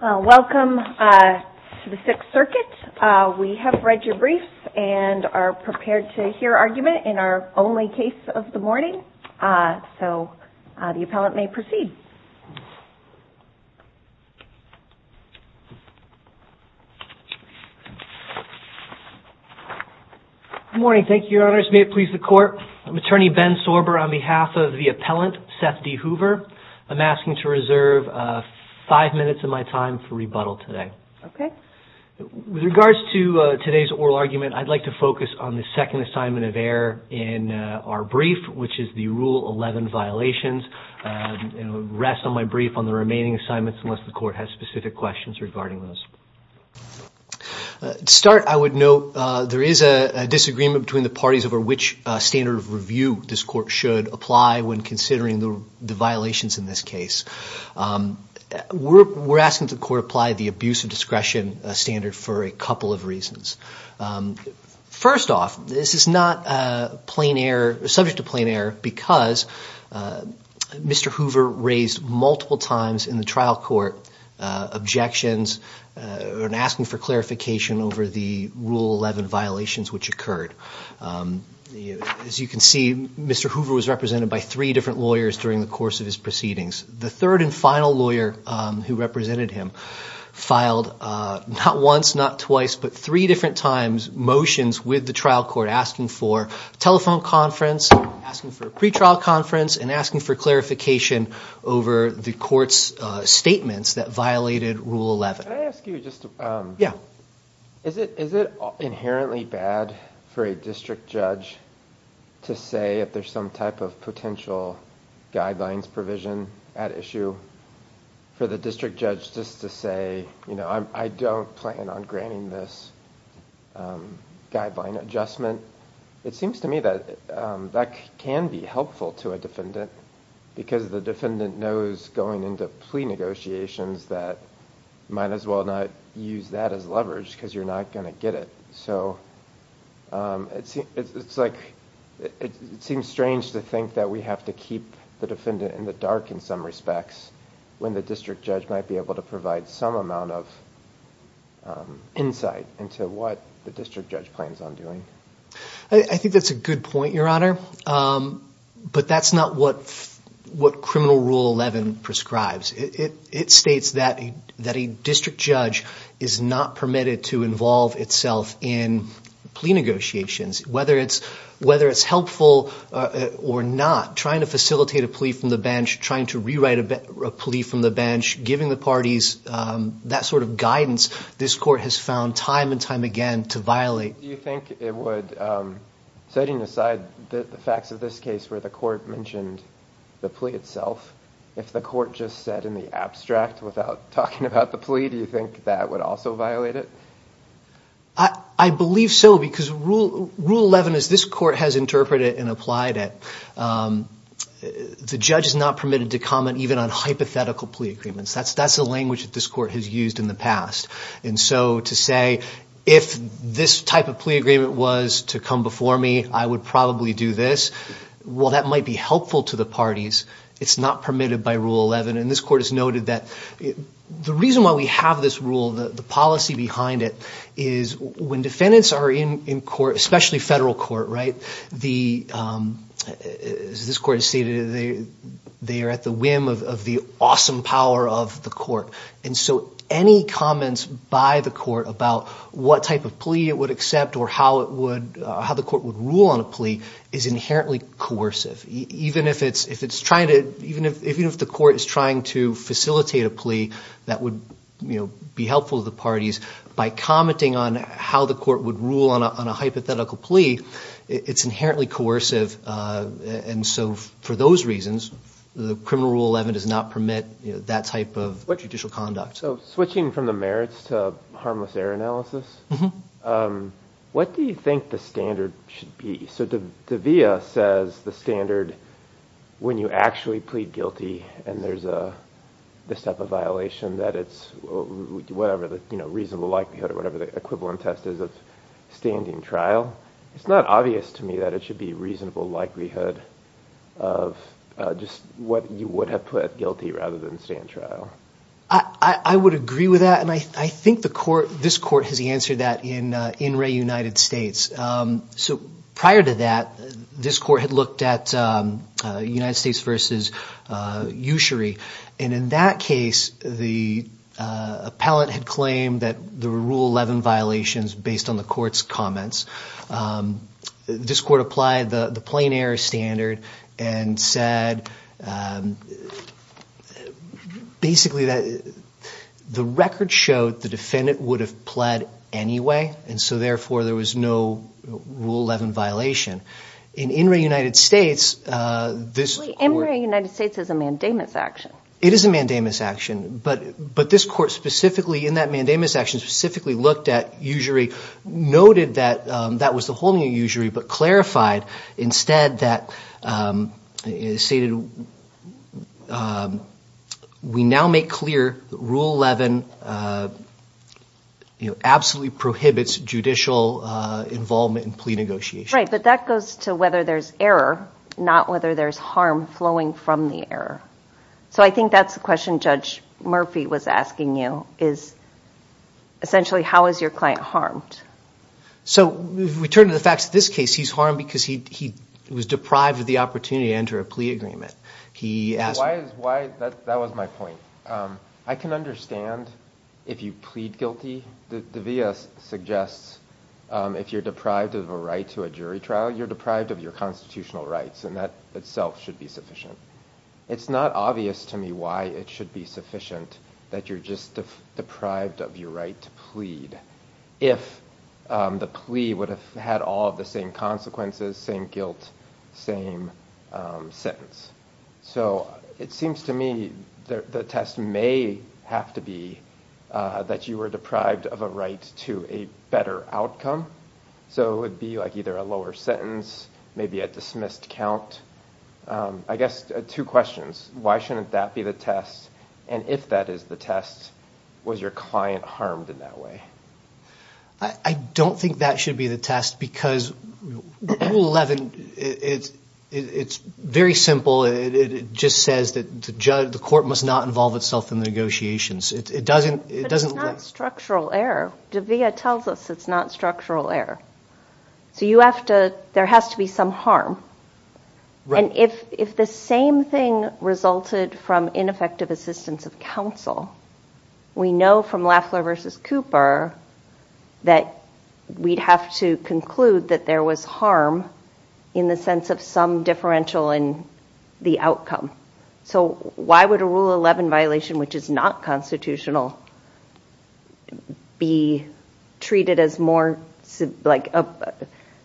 Welcome to the Sixth Circuit. We have read your brief and are prepared to hear argument in our only case of the morning. So the appellant may proceed. Good morning. Thank you, your honors. May it please the court. I'm attorney Ben Sorber on behalf of the appellant, Seth D. Hoover. I'm asking to reserve five minutes of my time for rebuttal today. With regards to today's oral argument, I'd like to focus on the second assignment of error in our brief, which is the Rule 11 violations. Rest of my brief on the remaining assignments unless the court has specific questions regarding those. To start, I would note there is a disagreement between the parties over which standard of review this court should apply when considering the violations in this case. We're asking that the court apply the abuse of discretion standard for a couple of reasons. First off, this is not subject to plain error because Mr. Hoover raised multiple times in the trial court objections and asking for clarification over the Rule 11 violations which occurred. As you can see, Mr. Hoover was represented by three different lawyers during the course of his proceedings. The third and final lawyer who represented him filed not once, not twice, but three different times motions with the trial court asking for telephone conference, asking for a pretrial conference, and asking for clarification over the court's statements that violated Rule 11. Is it inherently bad for a district judge to say if there's some type of potential guidelines provision at issue for the district judge just to say, you know, I don't plan on granting this guideline adjustment? It seems to me that that can be helpful to a defendant because the defendant knows going into plea negotiations that might as well not use that as leverage because you're not going to get it. So it seems strange to think that we have to keep the defendant in the dark in some respects when the district judge might be able to provide some amount of insight into what the district judge plans on doing. I think that's a good point, Your Honor, but that's not what Criminal Rule 11 prescribes. It states that a district judge is not permitted to involve itself in plea negotiations. Whether it's helpful or not, trying to facilitate a plea from the bench, trying to rewrite a plea from the bench, giving the parties that sort of guidance, this court has found time and time again to violate. Do you think it would, setting aside the facts of this case where the court mentioned the plea itself, if the court just said in the abstract without talking about the plea, do you think that would also violate it? I believe so because Rule 11, as this court has interpreted and applied it, the judge is not permitted to comment even on hypothetical plea agreements. That's the language that this court has used in the past. And so to say, if this type of plea agreement was to come before me, I would probably do this, while that might be helpful to the parties, it's not permitted by Rule 11. And this court has noted that the reason why we have this rule, the policy behind it, is when defendants are in court, especially federal court, as this court has stated, they are at the whim of the awesome power of the court. And so any comments by the court about what type of plea it would accept or how the court would rule on a plea is inherently coercive. Even if the court is trying to facilitate a plea that would be helpful to the parties, by commenting on how the court would rule on a hypothetical plea, it's inherently coercive. And so for those reasons, the criminal Rule 11 does not permit that type of judicial conduct. So switching from the merits to harmless error analysis, what do you think the standard should be? So De'Vea says the standard, when you actually plead guilty and there's this type of violation, that it's whatever the reasonable likelihood or whatever the equivalent test is of standing trial. It's not obvious to me that it should be reasonable likelihood of just what you would have put guilty rather than stand trial. I would agree with that, and I think this court has answered that in Wray, United States. So prior to that, this court had looked at United States v. Ushery. And in that case, the appellant had claimed that there were Rule 11 violations based on the court's comments. This court applied the plain error standard and said basically that the record showed the defendant would have pled anyway. And so therefore, there was no Rule 11 violation. In Wray, United States, this court… In Wray, United States, it's a mandamus action. It is a mandamus action, but this court specifically in that mandamus action specifically looked at Ushery, noted that that was the holding of Ushery, but clarified instead that it stated, we now make clear that Rule 11 absolutely prohibits judicial involvement in plea negotiations. Right, but that goes to whether there's error, not whether there's harm flowing from the error. So I think that's the question Judge Murphy was asking you, is essentially how is your client harmed? So we turn to the facts of this case. He's harmed because he was deprived of the opportunity to enter a plea agreement. That was my point. I can understand if you plead guilty. The via suggests if you're deprived of a right to a jury trial, you're deprived of your constitutional rights, and that itself should be sufficient. It's not obvious to me why it should be sufficient that you're just deprived of your right to plead, if the plea would have had all of the same consequences, same guilt, same sentence. So it seems to me the test may have to be that you were deprived of a right to a better outcome. So it would be like either a lower sentence, maybe a dismissed count. I guess two questions. Why shouldn't that be the test? And if that is the test, was your client harmed in that way? I don't think that should be the test because Rule 11, it's very simple. It just says that the court must not involve itself in negotiations. It doesn't – But it's not structural error. The via tells us it's not structural error. So you have to – there has to be some harm. And if the same thing resulted from ineffective assistance of counsel, we know from Lafleur v. Cooper that we'd have to conclude that there was harm in the sense of some differential in the outcome. So why would a Rule 11 violation, which is not constitutional, be treated as more like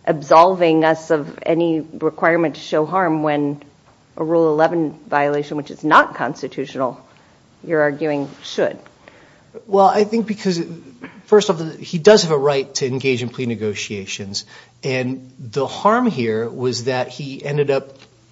absolving us of any requirement to show harm when a Rule 11 violation, which is not constitutional, you're arguing should? Well, I think because, first of all, he does have a right to engage in plea negotiations. And the harm here was that he ended up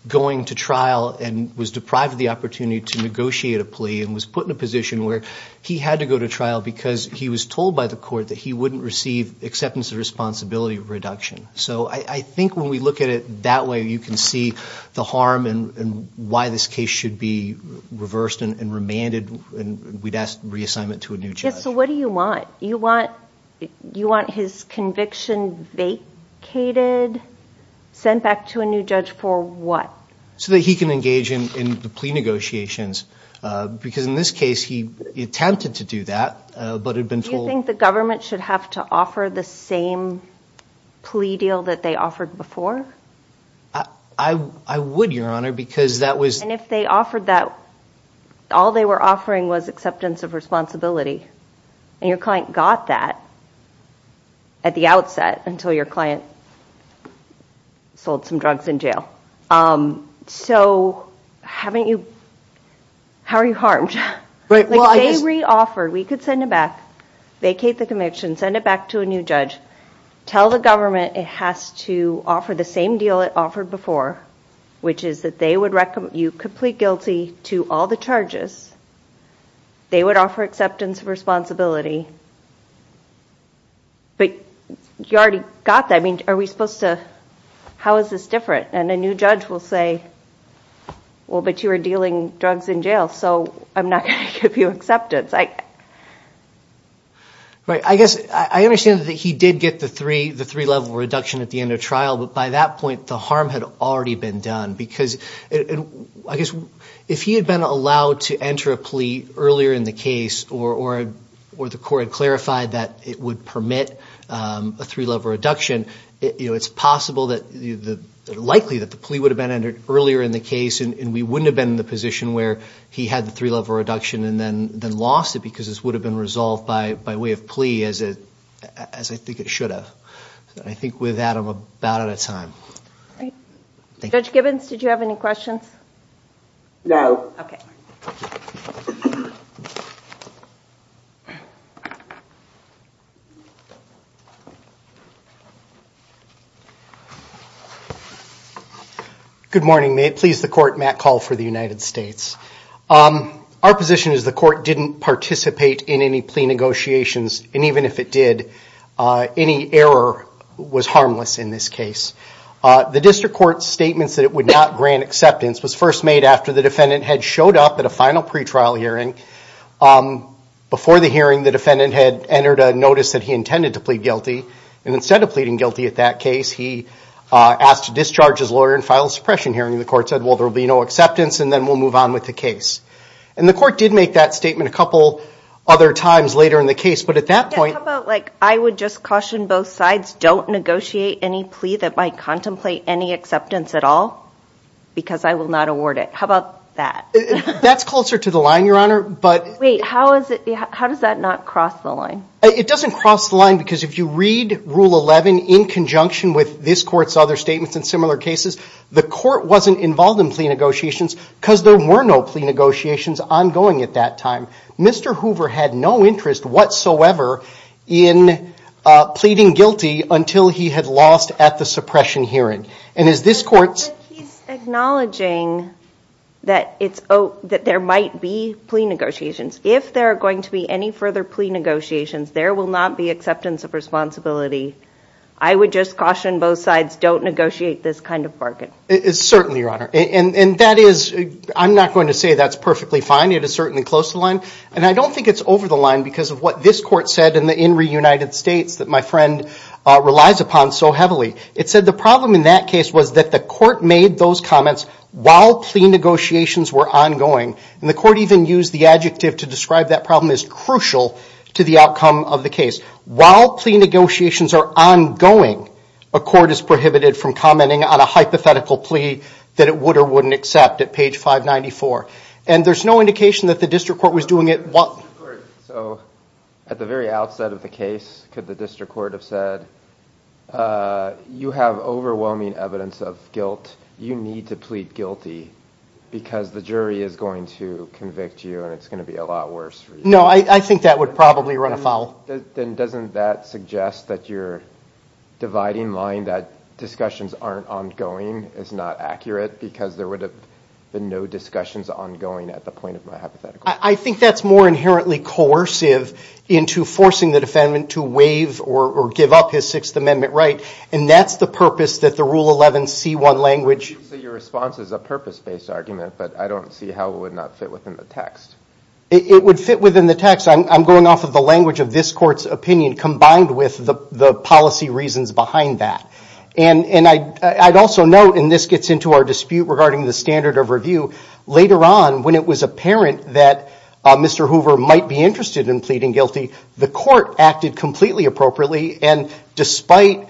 going to trial and was deprived of the opportunity to negotiate a plea and was put in a position where he had to go to trial because he was told by the court that he wouldn't receive acceptance of responsibility reduction. So I think when we look at it that way, you can see the harm and why this case should be reversed and remanded. And we'd ask reassignment to a new judge. So what do you want? You want his conviction vacated, sent back to a new judge for what? So that he can engage in the plea negotiations. Because in this case, he attempted to do that, but had been told— Do you think the government should have to offer the same plea deal that they offered before? I would, Your Honor, because that was— And if they offered that, all they were offering was acceptance of responsibility. And your client got that at the outset until your client sold some drugs in jail. So haven't you—how are you harmed? If they re-offered, we could send it back, vacate the conviction, send it back to a new judge, tell the government it has to offer the same deal it offered before, which is that they would recommend you complete guilty to all the charges. They would offer acceptance of responsibility. But you already got that. I mean, are we supposed to—how is this different? And a new judge will say, well, but you were dealing drugs in jail, so I'm not going to give you acceptance. Right. I guess I understand that he did get the three-level reduction at the end of trial, but by that point, the harm had already been done. I guess if he had been allowed to enter a plea earlier in the case or the court had clarified that it would permit a three-level reduction, it's possible that—likely that the plea would have been entered earlier in the case and we wouldn't have been in the position where he had the three-level reduction and then lost it because this would have been resolved by way of plea, as I think it should have. I think with that, I'm about out of time. Judge Gibbons, did you have any questions? No. Okay. Good morning. May it please the Court, Matt Call for the United States. Our position is the court didn't participate in any plea negotiations, and even if it did, any error was harmless in this case. The district court's statements that it would not grant acceptance was first made after the defendant had showed up at a final pretrial hearing. Before the hearing, the defendant had entered a notice that he intended to plead guilty, and instead of pleading guilty at that case, he asked to discharge his lawyer and file a suppression hearing. The court said, well, there will be no acceptance and then we'll move on with the case. And the court did make that statement a couple other times later in the case, but at that point How about like I would just caution both sides, don't negotiate any plea that might contemplate any acceptance at all, because I will not award it. How about that? That's closer to the line, Your Honor, but Wait, how does that not cross the line? It doesn't cross the line because if you read Rule 11 in conjunction with this court's other statements and similar cases, the court wasn't involved in plea negotiations because there were no plea negotiations ongoing at that time. Mr. Hoover had no interest whatsoever in pleading guilty until he had lost at the suppression hearing. And as this court's But he's acknowledging that there might be plea negotiations. If there are going to be any further plea negotiations, there will not be acceptance of responsibility. I would just caution both sides, don't negotiate this kind of bargain. Certainly, Your Honor. And that is, I'm not going to say that's perfectly fine. It is certainly close to the line. And I don't think it's over the line because of what this court said in the In Re United States that my friend relies upon so heavily. It said the problem in that case was that the court made those comments while plea negotiations were ongoing. And the court even used the adjective to describe that problem as crucial to the outcome of the case. While plea negotiations are ongoing, a court is prohibited from commenting on a hypothetical plea that it would or wouldn't accept at page 594. And there's no indication that the district court was doing it. So, at the very outset of the case, could the district court have said, you have overwhelming evidence of guilt, you need to plead guilty because the jury is going to convict you and it's going to be a lot worse for you. No, I think that would probably run afoul. Then doesn't that suggest that you're dividing line that discussions aren't ongoing is not accurate because there would have been no discussions ongoing at the point of my hypothetical plea. I think that's more inherently coercive into forcing the defendant to waive or give up his Sixth Amendment right. And that's the purpose that the Rule 11 C1 language... So your response is a purpose-based argument, but I don't see how it would not fit within the text. It would fit within the text. I'm going off of the language of this court's opinion combined with the policy reasons behind that. I'd also note, and this gets into our dispute regarding the standard of review, later on when it was apparent that Mr. Hoover might be interested in pleading guilty, the court acted completely appropriately and despite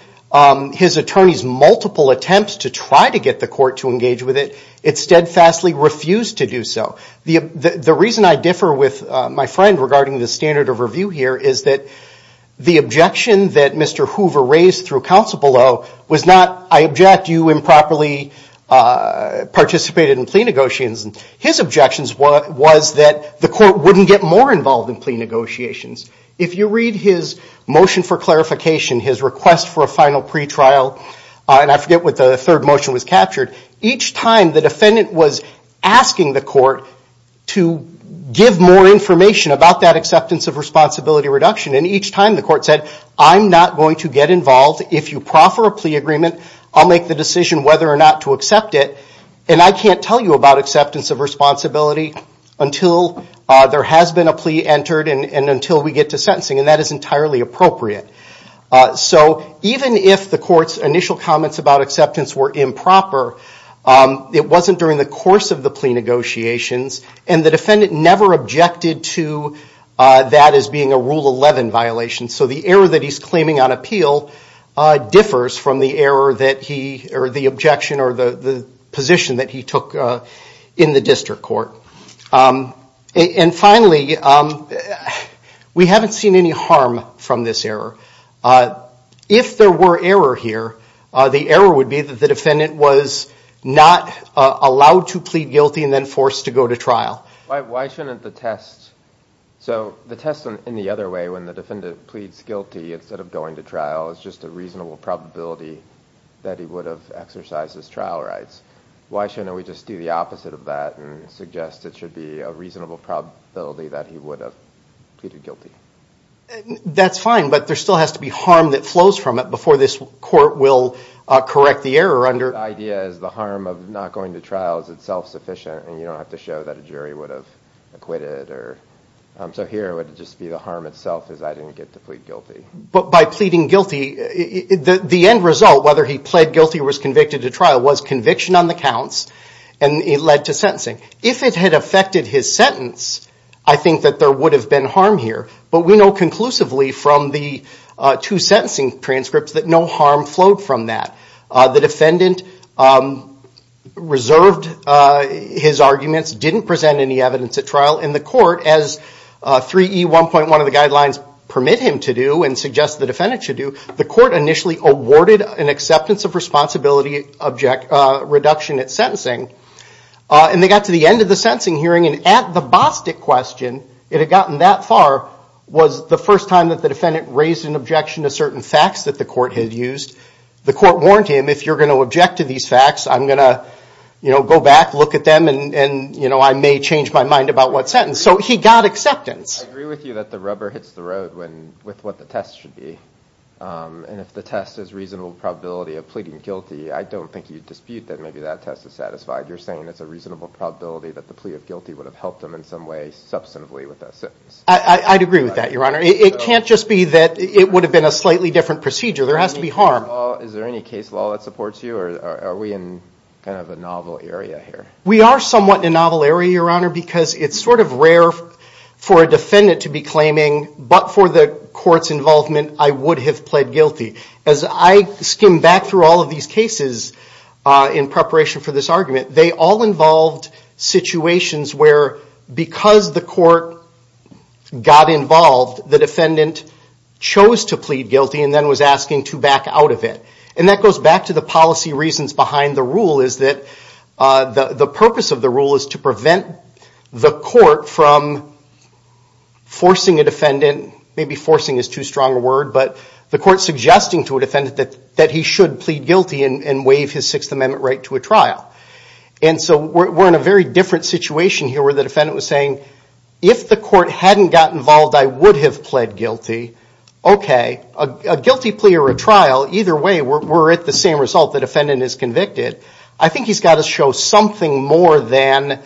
his attorney's multiple attempts to try to get the court to engage with it, it steadfastly refused to do so. The reason I differ with my friend regarding the standard of review here is that the objection that Mr. Hoover raised through counsel below was not, I object, you improperly participated in plea negotiations. His objection was that the court wouldn't get more involved in plea negotiations. If you read his motion for clarification, his request for a final pretrial, and I forget what the third motion was captured, each time the defendant was asking the court to give more information about that acceptance of responsibility reduction, and each time the court said, I'm not going to get involved. If you proffer a plea agreement, I'll make the decision whether or not to accept it, and I can't tell you about acceptance of responsibility until there has been a plea entered and until we get to sentencing, and that is entirely appropriate. So even if the court's initial comments about acceptance were improper, it wasn't during the course of the plea negotiations, and the defendant never objected to that as being a Rule 11 violation. So the error that he's claiming on appeal differs from the objection or the position that he took in the district court. And finally, we haven't seen any harm from this error. If there were error here, the error would be that the defendant was not allowed to plead guilty and then forced to go to trial. Why shouldn't the test... So the test in the other way, when the defendant pleads guilty instead of going to trial, is just a reasonable probability that he would have exercised his trial rights. Why shouldn't we just do the opposite of that and suggest it should be a reasonable probability that he would have pleaded guilty? That's fine, but there still has to be harm that flows from it before this court will correct the error under... The idea is the harm of not going to trial is itself sufficient, and you don't have to show that a jury would have acquitted. So here, it would just be the harm itself is I didn't get to plead guilty. But by pleading guilty, the end result, whether he pled guilty or was convicted to trial, was conviction on the counts, and it led to sentencing. If it had affected his sentence, I think that there would have been harm here. But we know conclusively from the two sentencing transcripts that no harm flowed from that. The defendant reserved his arguments, didn't present any evidence at trial, and the court, as 3E1.1 of the guidelines permit him to do and suggest the defendant should do, the court initially awarded an acceptance of responsibility reduction at sentencing. And they got to the end of the sentencing hearing, and at the Bostic question, it had gotten that far, was the first time that the defendant raised an objection to certain facts that the court had used. The court warned him, if you're going to object to these facts, I'm going to go back, look at them, and I may change my mind about what sentence. So he got acceptance. I agree with you that the rubber hits the road with what the test should be. And if the test is reasonable probability of pleading guilty, I don't think you'd dispute that maybe that test is satisfied. You're saying it's a reasonable probability that the plea of guilty would have helped him in some way substantively with that sentence. I'd agree with that, Your Honor. It can't just be that it would have been a slightly different procedure. There has to be harm. Is there any case law that supports you, or are we in kind of a novel area here? We are somewhat in a novel area, Your Honor, because it's sort of rare for a defendant to be claiming, but for the court's involvement, I would have pled guilty. As I skim back through all of these cases in preparation for this argument, they all involved situations where, because the court got involved, the defendant chose to plead guilty and then was asking to back out of it. And that goes back to the policy reasons behind the rule, is that the purpose of the rule is to prevent the court from forcing a defendant, maybe forcing is too strong a word, but the court suggesting to a defendant that he should plead guilty and waive his Sixth Amendment right to a trial. And so we're in a very different situation here where the defendant was saying, if the court hadn't gotten involved, I would have pled guilty. Okay, a guilty plea or a trial, either way, we're at the same result, the defendant is convicted. I think he's got to show something more than,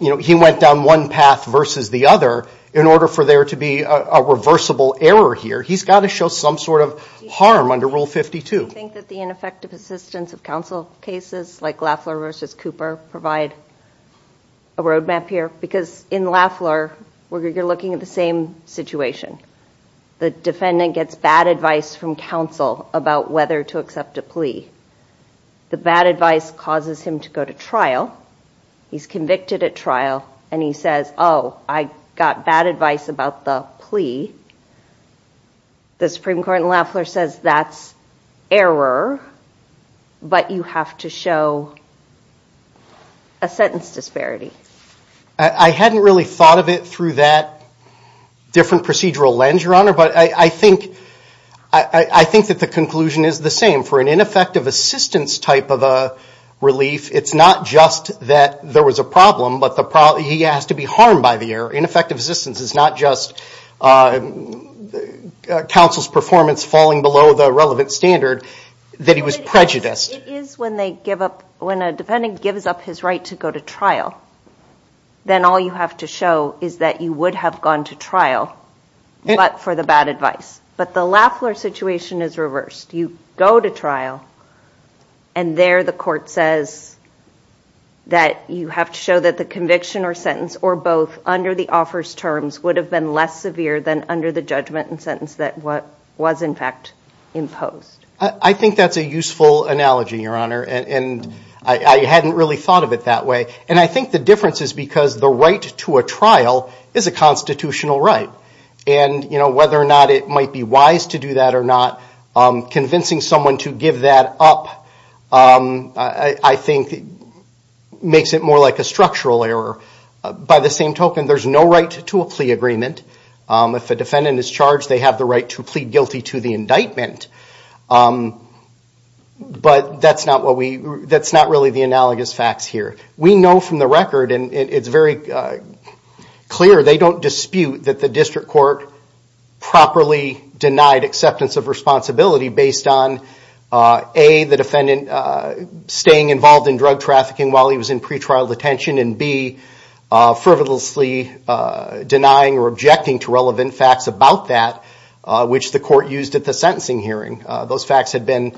you know, he went down one path versus the other in order for there to be a reversible error here. He's got to show some sort of harm under Rule 52. I think that the ineffective assistance of counsel cases like Lafleur v. Cooper provide a roadmap here because in Lafleur, we're looking at the same situation. The defendant gets bad advice from counsel about whether to accept a plea. The bad advice causes him to go to trial. He's convicted at trial and he says, oh, I got bad advice about the plea. The Supreme Court in Lafleur says that's error, but you have to show a sentence disparity. I hadn't really thought of it through that different procedural lens, Your Honor, but I think that the conclusion is the same. For an ineffective assistance type of a relief, it's not just that there was a problem, but he has to be harmed by the error. Ineffective assistance is not just counsel's performance falling below the relevant standard, that he was prejudiced. It is when a defendant gives up his right to go to trial. Then all you have to show is that you would have gone to trial, but for the bad advice. But the Lafleur situation is reversed. You go to trial and there the court says that you have to show that the conviction or sentence, or both, under the offers terms would have been less severe than under the judgment and sentence that was in fact imposed. I think that's a useful analogy, Your Honor, and I hadn't really thought of it that way. I think the difference is because the right to a trial is a constitutional right. Whether or not it might be wise to do that or not, convincing someone to give that up, I think, makes it more like a structural error. By the same token, there's no right to a plea agreement. If a defendant is charged, they have the right to plead guilty to the indictment. But that's not really the analogous facts here. We know from the record, and it's very clear, they don't dispute that the district court properly denied acceptance of responsibility based on A, the defendant staying involved in drug trafficking while he was in pretrial detention, and B, frivolously denying or objecting to relevant facts about that, which the court used at the sentencing hearing. Those facts had been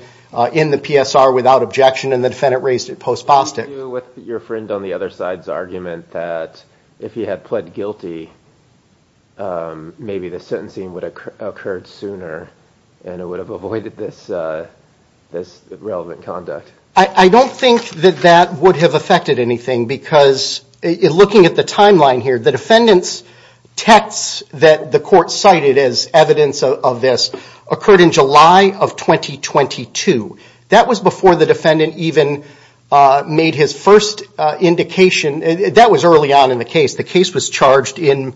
in the PSR without objection and the defendant raised it post-Bostick. What did you do with your friend on the other side's argument that if he had pled guilty, maybe the sentencing would have occurred sooner and it would have avoided this relevant conduct? I don't think that that would have affected anything because looking at the timeline here, the defendant's texts that the court cited as evidence of this occurred in July of 2022. That was before the defendant even made his first indication. That was early on in the case. The case was charged in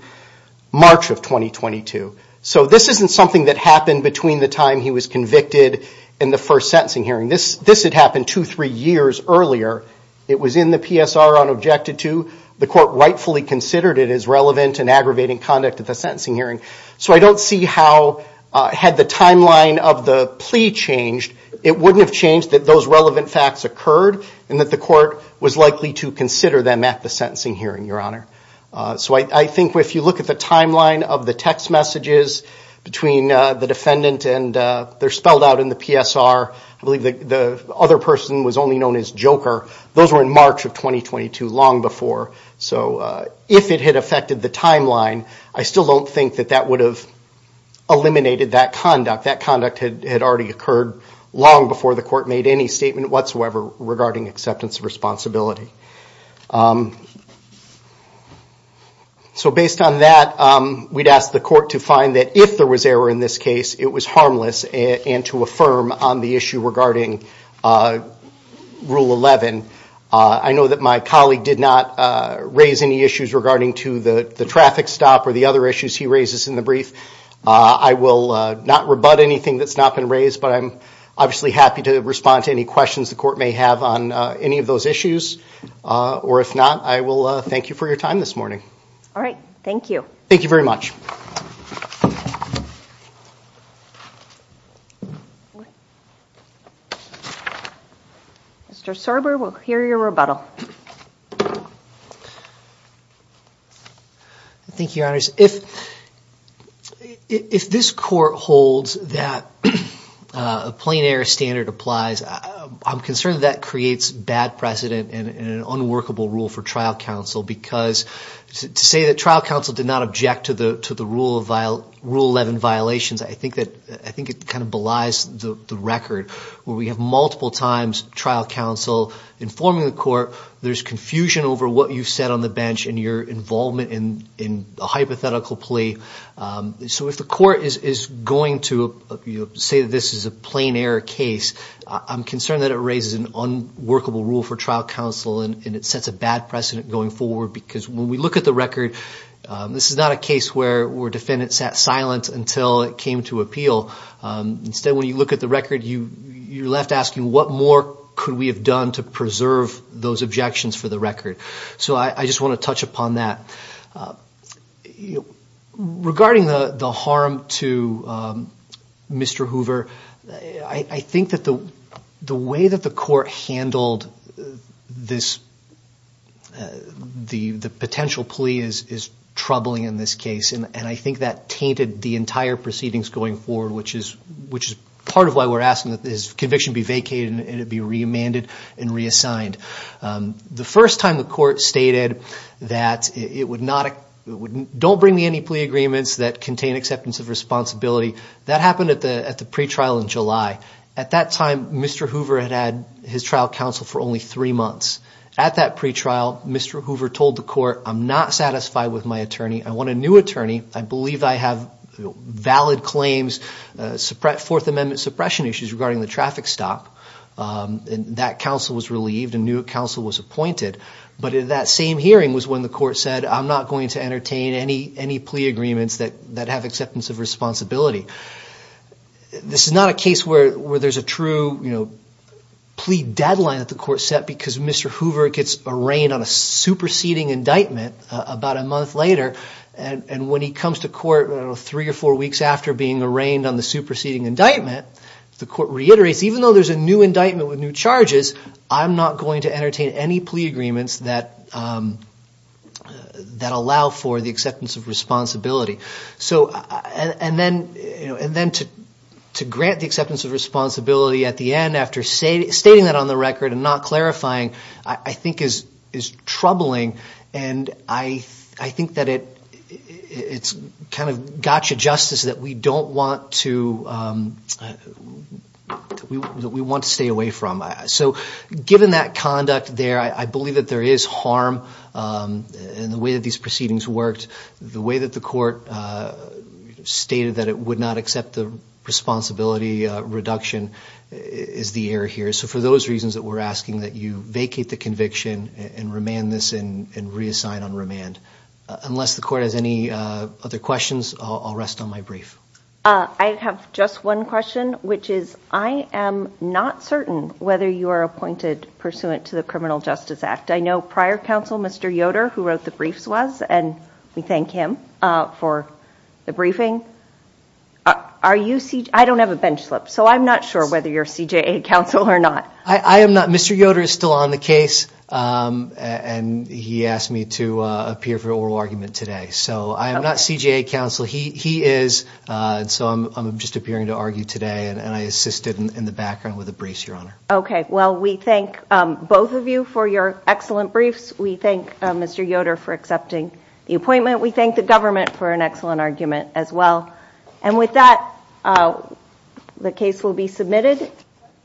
March of 2022. So this isn't something that happened between the time he was convicted and the first sentencing hearing. This had happened two, three years earlier. It was in the PSR unobjected to. The court rightfully considered it as relevant and aggravating conduct at the sentencing hearing. So I don't see how, had the timeline of the plea changed, it wouldn't have changed that those relevant facts occurred and that the court was likely to consider them at the sentencing hearing, Your Honor. So I think if you look at the timeline of the text messages between the defendant and they're spelled out in the PSR, I believe the other person was only known as Joker. Those were in March of 2022, long before. So if it had affected the timeline, I still don't think that that would have eliminated that conduct. That conduct had already occurred long before the court made any statement whatsoever regarding acceptance of responsibility. So based on that, we'd ask the court to find that if there was error in this case, it was harmless, and to affirm on the issue regarding Rule 11. I know that my colleague did not raise any issues regarding to the traffic stop or the other issues he raises in the brief. I will not rebut anything that's not been raised, but I'm obviously happy to respond to any questions the court may have on any of those issues. Or if not, I will thank you for your time this morning. All right. Thank you. Thank you very much. Mr. Serber, we'll hear your rebuttal. All right. Thank you, Your Honors. If this court holds that a plain error standard applies, I'm concerned that creates bad precedent and an unworkable rule for trial counsel because to say that trial counsel did not object to the Rule 11 violations, I think it kind of belies the record where we have multiple times trial counsel informing the court there's confusion over what you've said on the bench and your involvement in a hypothetical plea. So if the court is going to say this is a plain error case, I'm concerned that it raises an unworkable rule for trial counsel and it sets a bad precedent going forward because when we look at the record, this is not a case where a defendant sat silent until it came to appeal. Instead, when you look at the record, you're left asking what more could we have done to preserve those objections for the record. So I just want to touch upon that. Regarding the harm to Mr. Hoover, I think that the way that the court handled this, the potential plea is troubling in this case, and I think that tainted the entire proceedings going forward, which is part of why we're asking that his conviction be vacated and it be remanded and reassigned. The first time the court stated that it would not, don't bring me any plea agreements that contain acceptance of responsibility, that happened at the pretrial in July. At that time, Mr. Hoover had had his trial counsel for only three months. At that pretrial, Mr. Hoover told the court, I'm not satisfied with my attorney. I want a new attorney. I believe I have valid claims, Fourth Amendment suppression issues regarding the traffic stop. That counsel was relieved and new counsel was appointed. But at that same hearing was when the court said, I'm not going to entertain any plea agreements that have acceptance of responsibility. This is not a case where there's a true plea deadline that the court set because Mr. Hoover gets arraigned on a superseding indictment about a month later, and when he comes to court three or four weeks after being arraigned on the superseding indictment, the court reiterates, even though there's a new indictment with new charges, I'm not going to entertain any plea agreements that allow for the acceptance of responsibility. And then to grant the acceptance of responsibility at the end after stating that on the record and not clarifying, I think is troubling. And I think that it's kind of gotcha justice that we want to stay away from. So given that conduct there, I believe that there is harm in the way that these proceedings worked. The way that the court stated that it would not accept the responsibility reduction is the error here. So for those reasons that we're asking that you vacate the conviction and remand this and reassign on remand. Unless the court has any other questions, I'll rest on my brief. I have just one question, which is I am not certain whether you are appointed pursuant to the Criminal Justice Act. I know prior counsel, Mr. Yoder, who wrote the briefs was, and we thank him for the briefing. I don't have a bench slip, so I'm not sure whether you're CJA counsel or not. I am not. Mr. Yoder is still on the case, and he asked me to appear for oral argument today. So I am not CJA counsel. He is. So I'm just appearing to argue today, and I assisted in the background with a briefs, Your Honor. Okay. Well, we thank both of you for your excellent briefs. We thank Mr. Yoder for accepting the appointment. We thank the government for an excellent argument as well. And with that, the case will be submitted.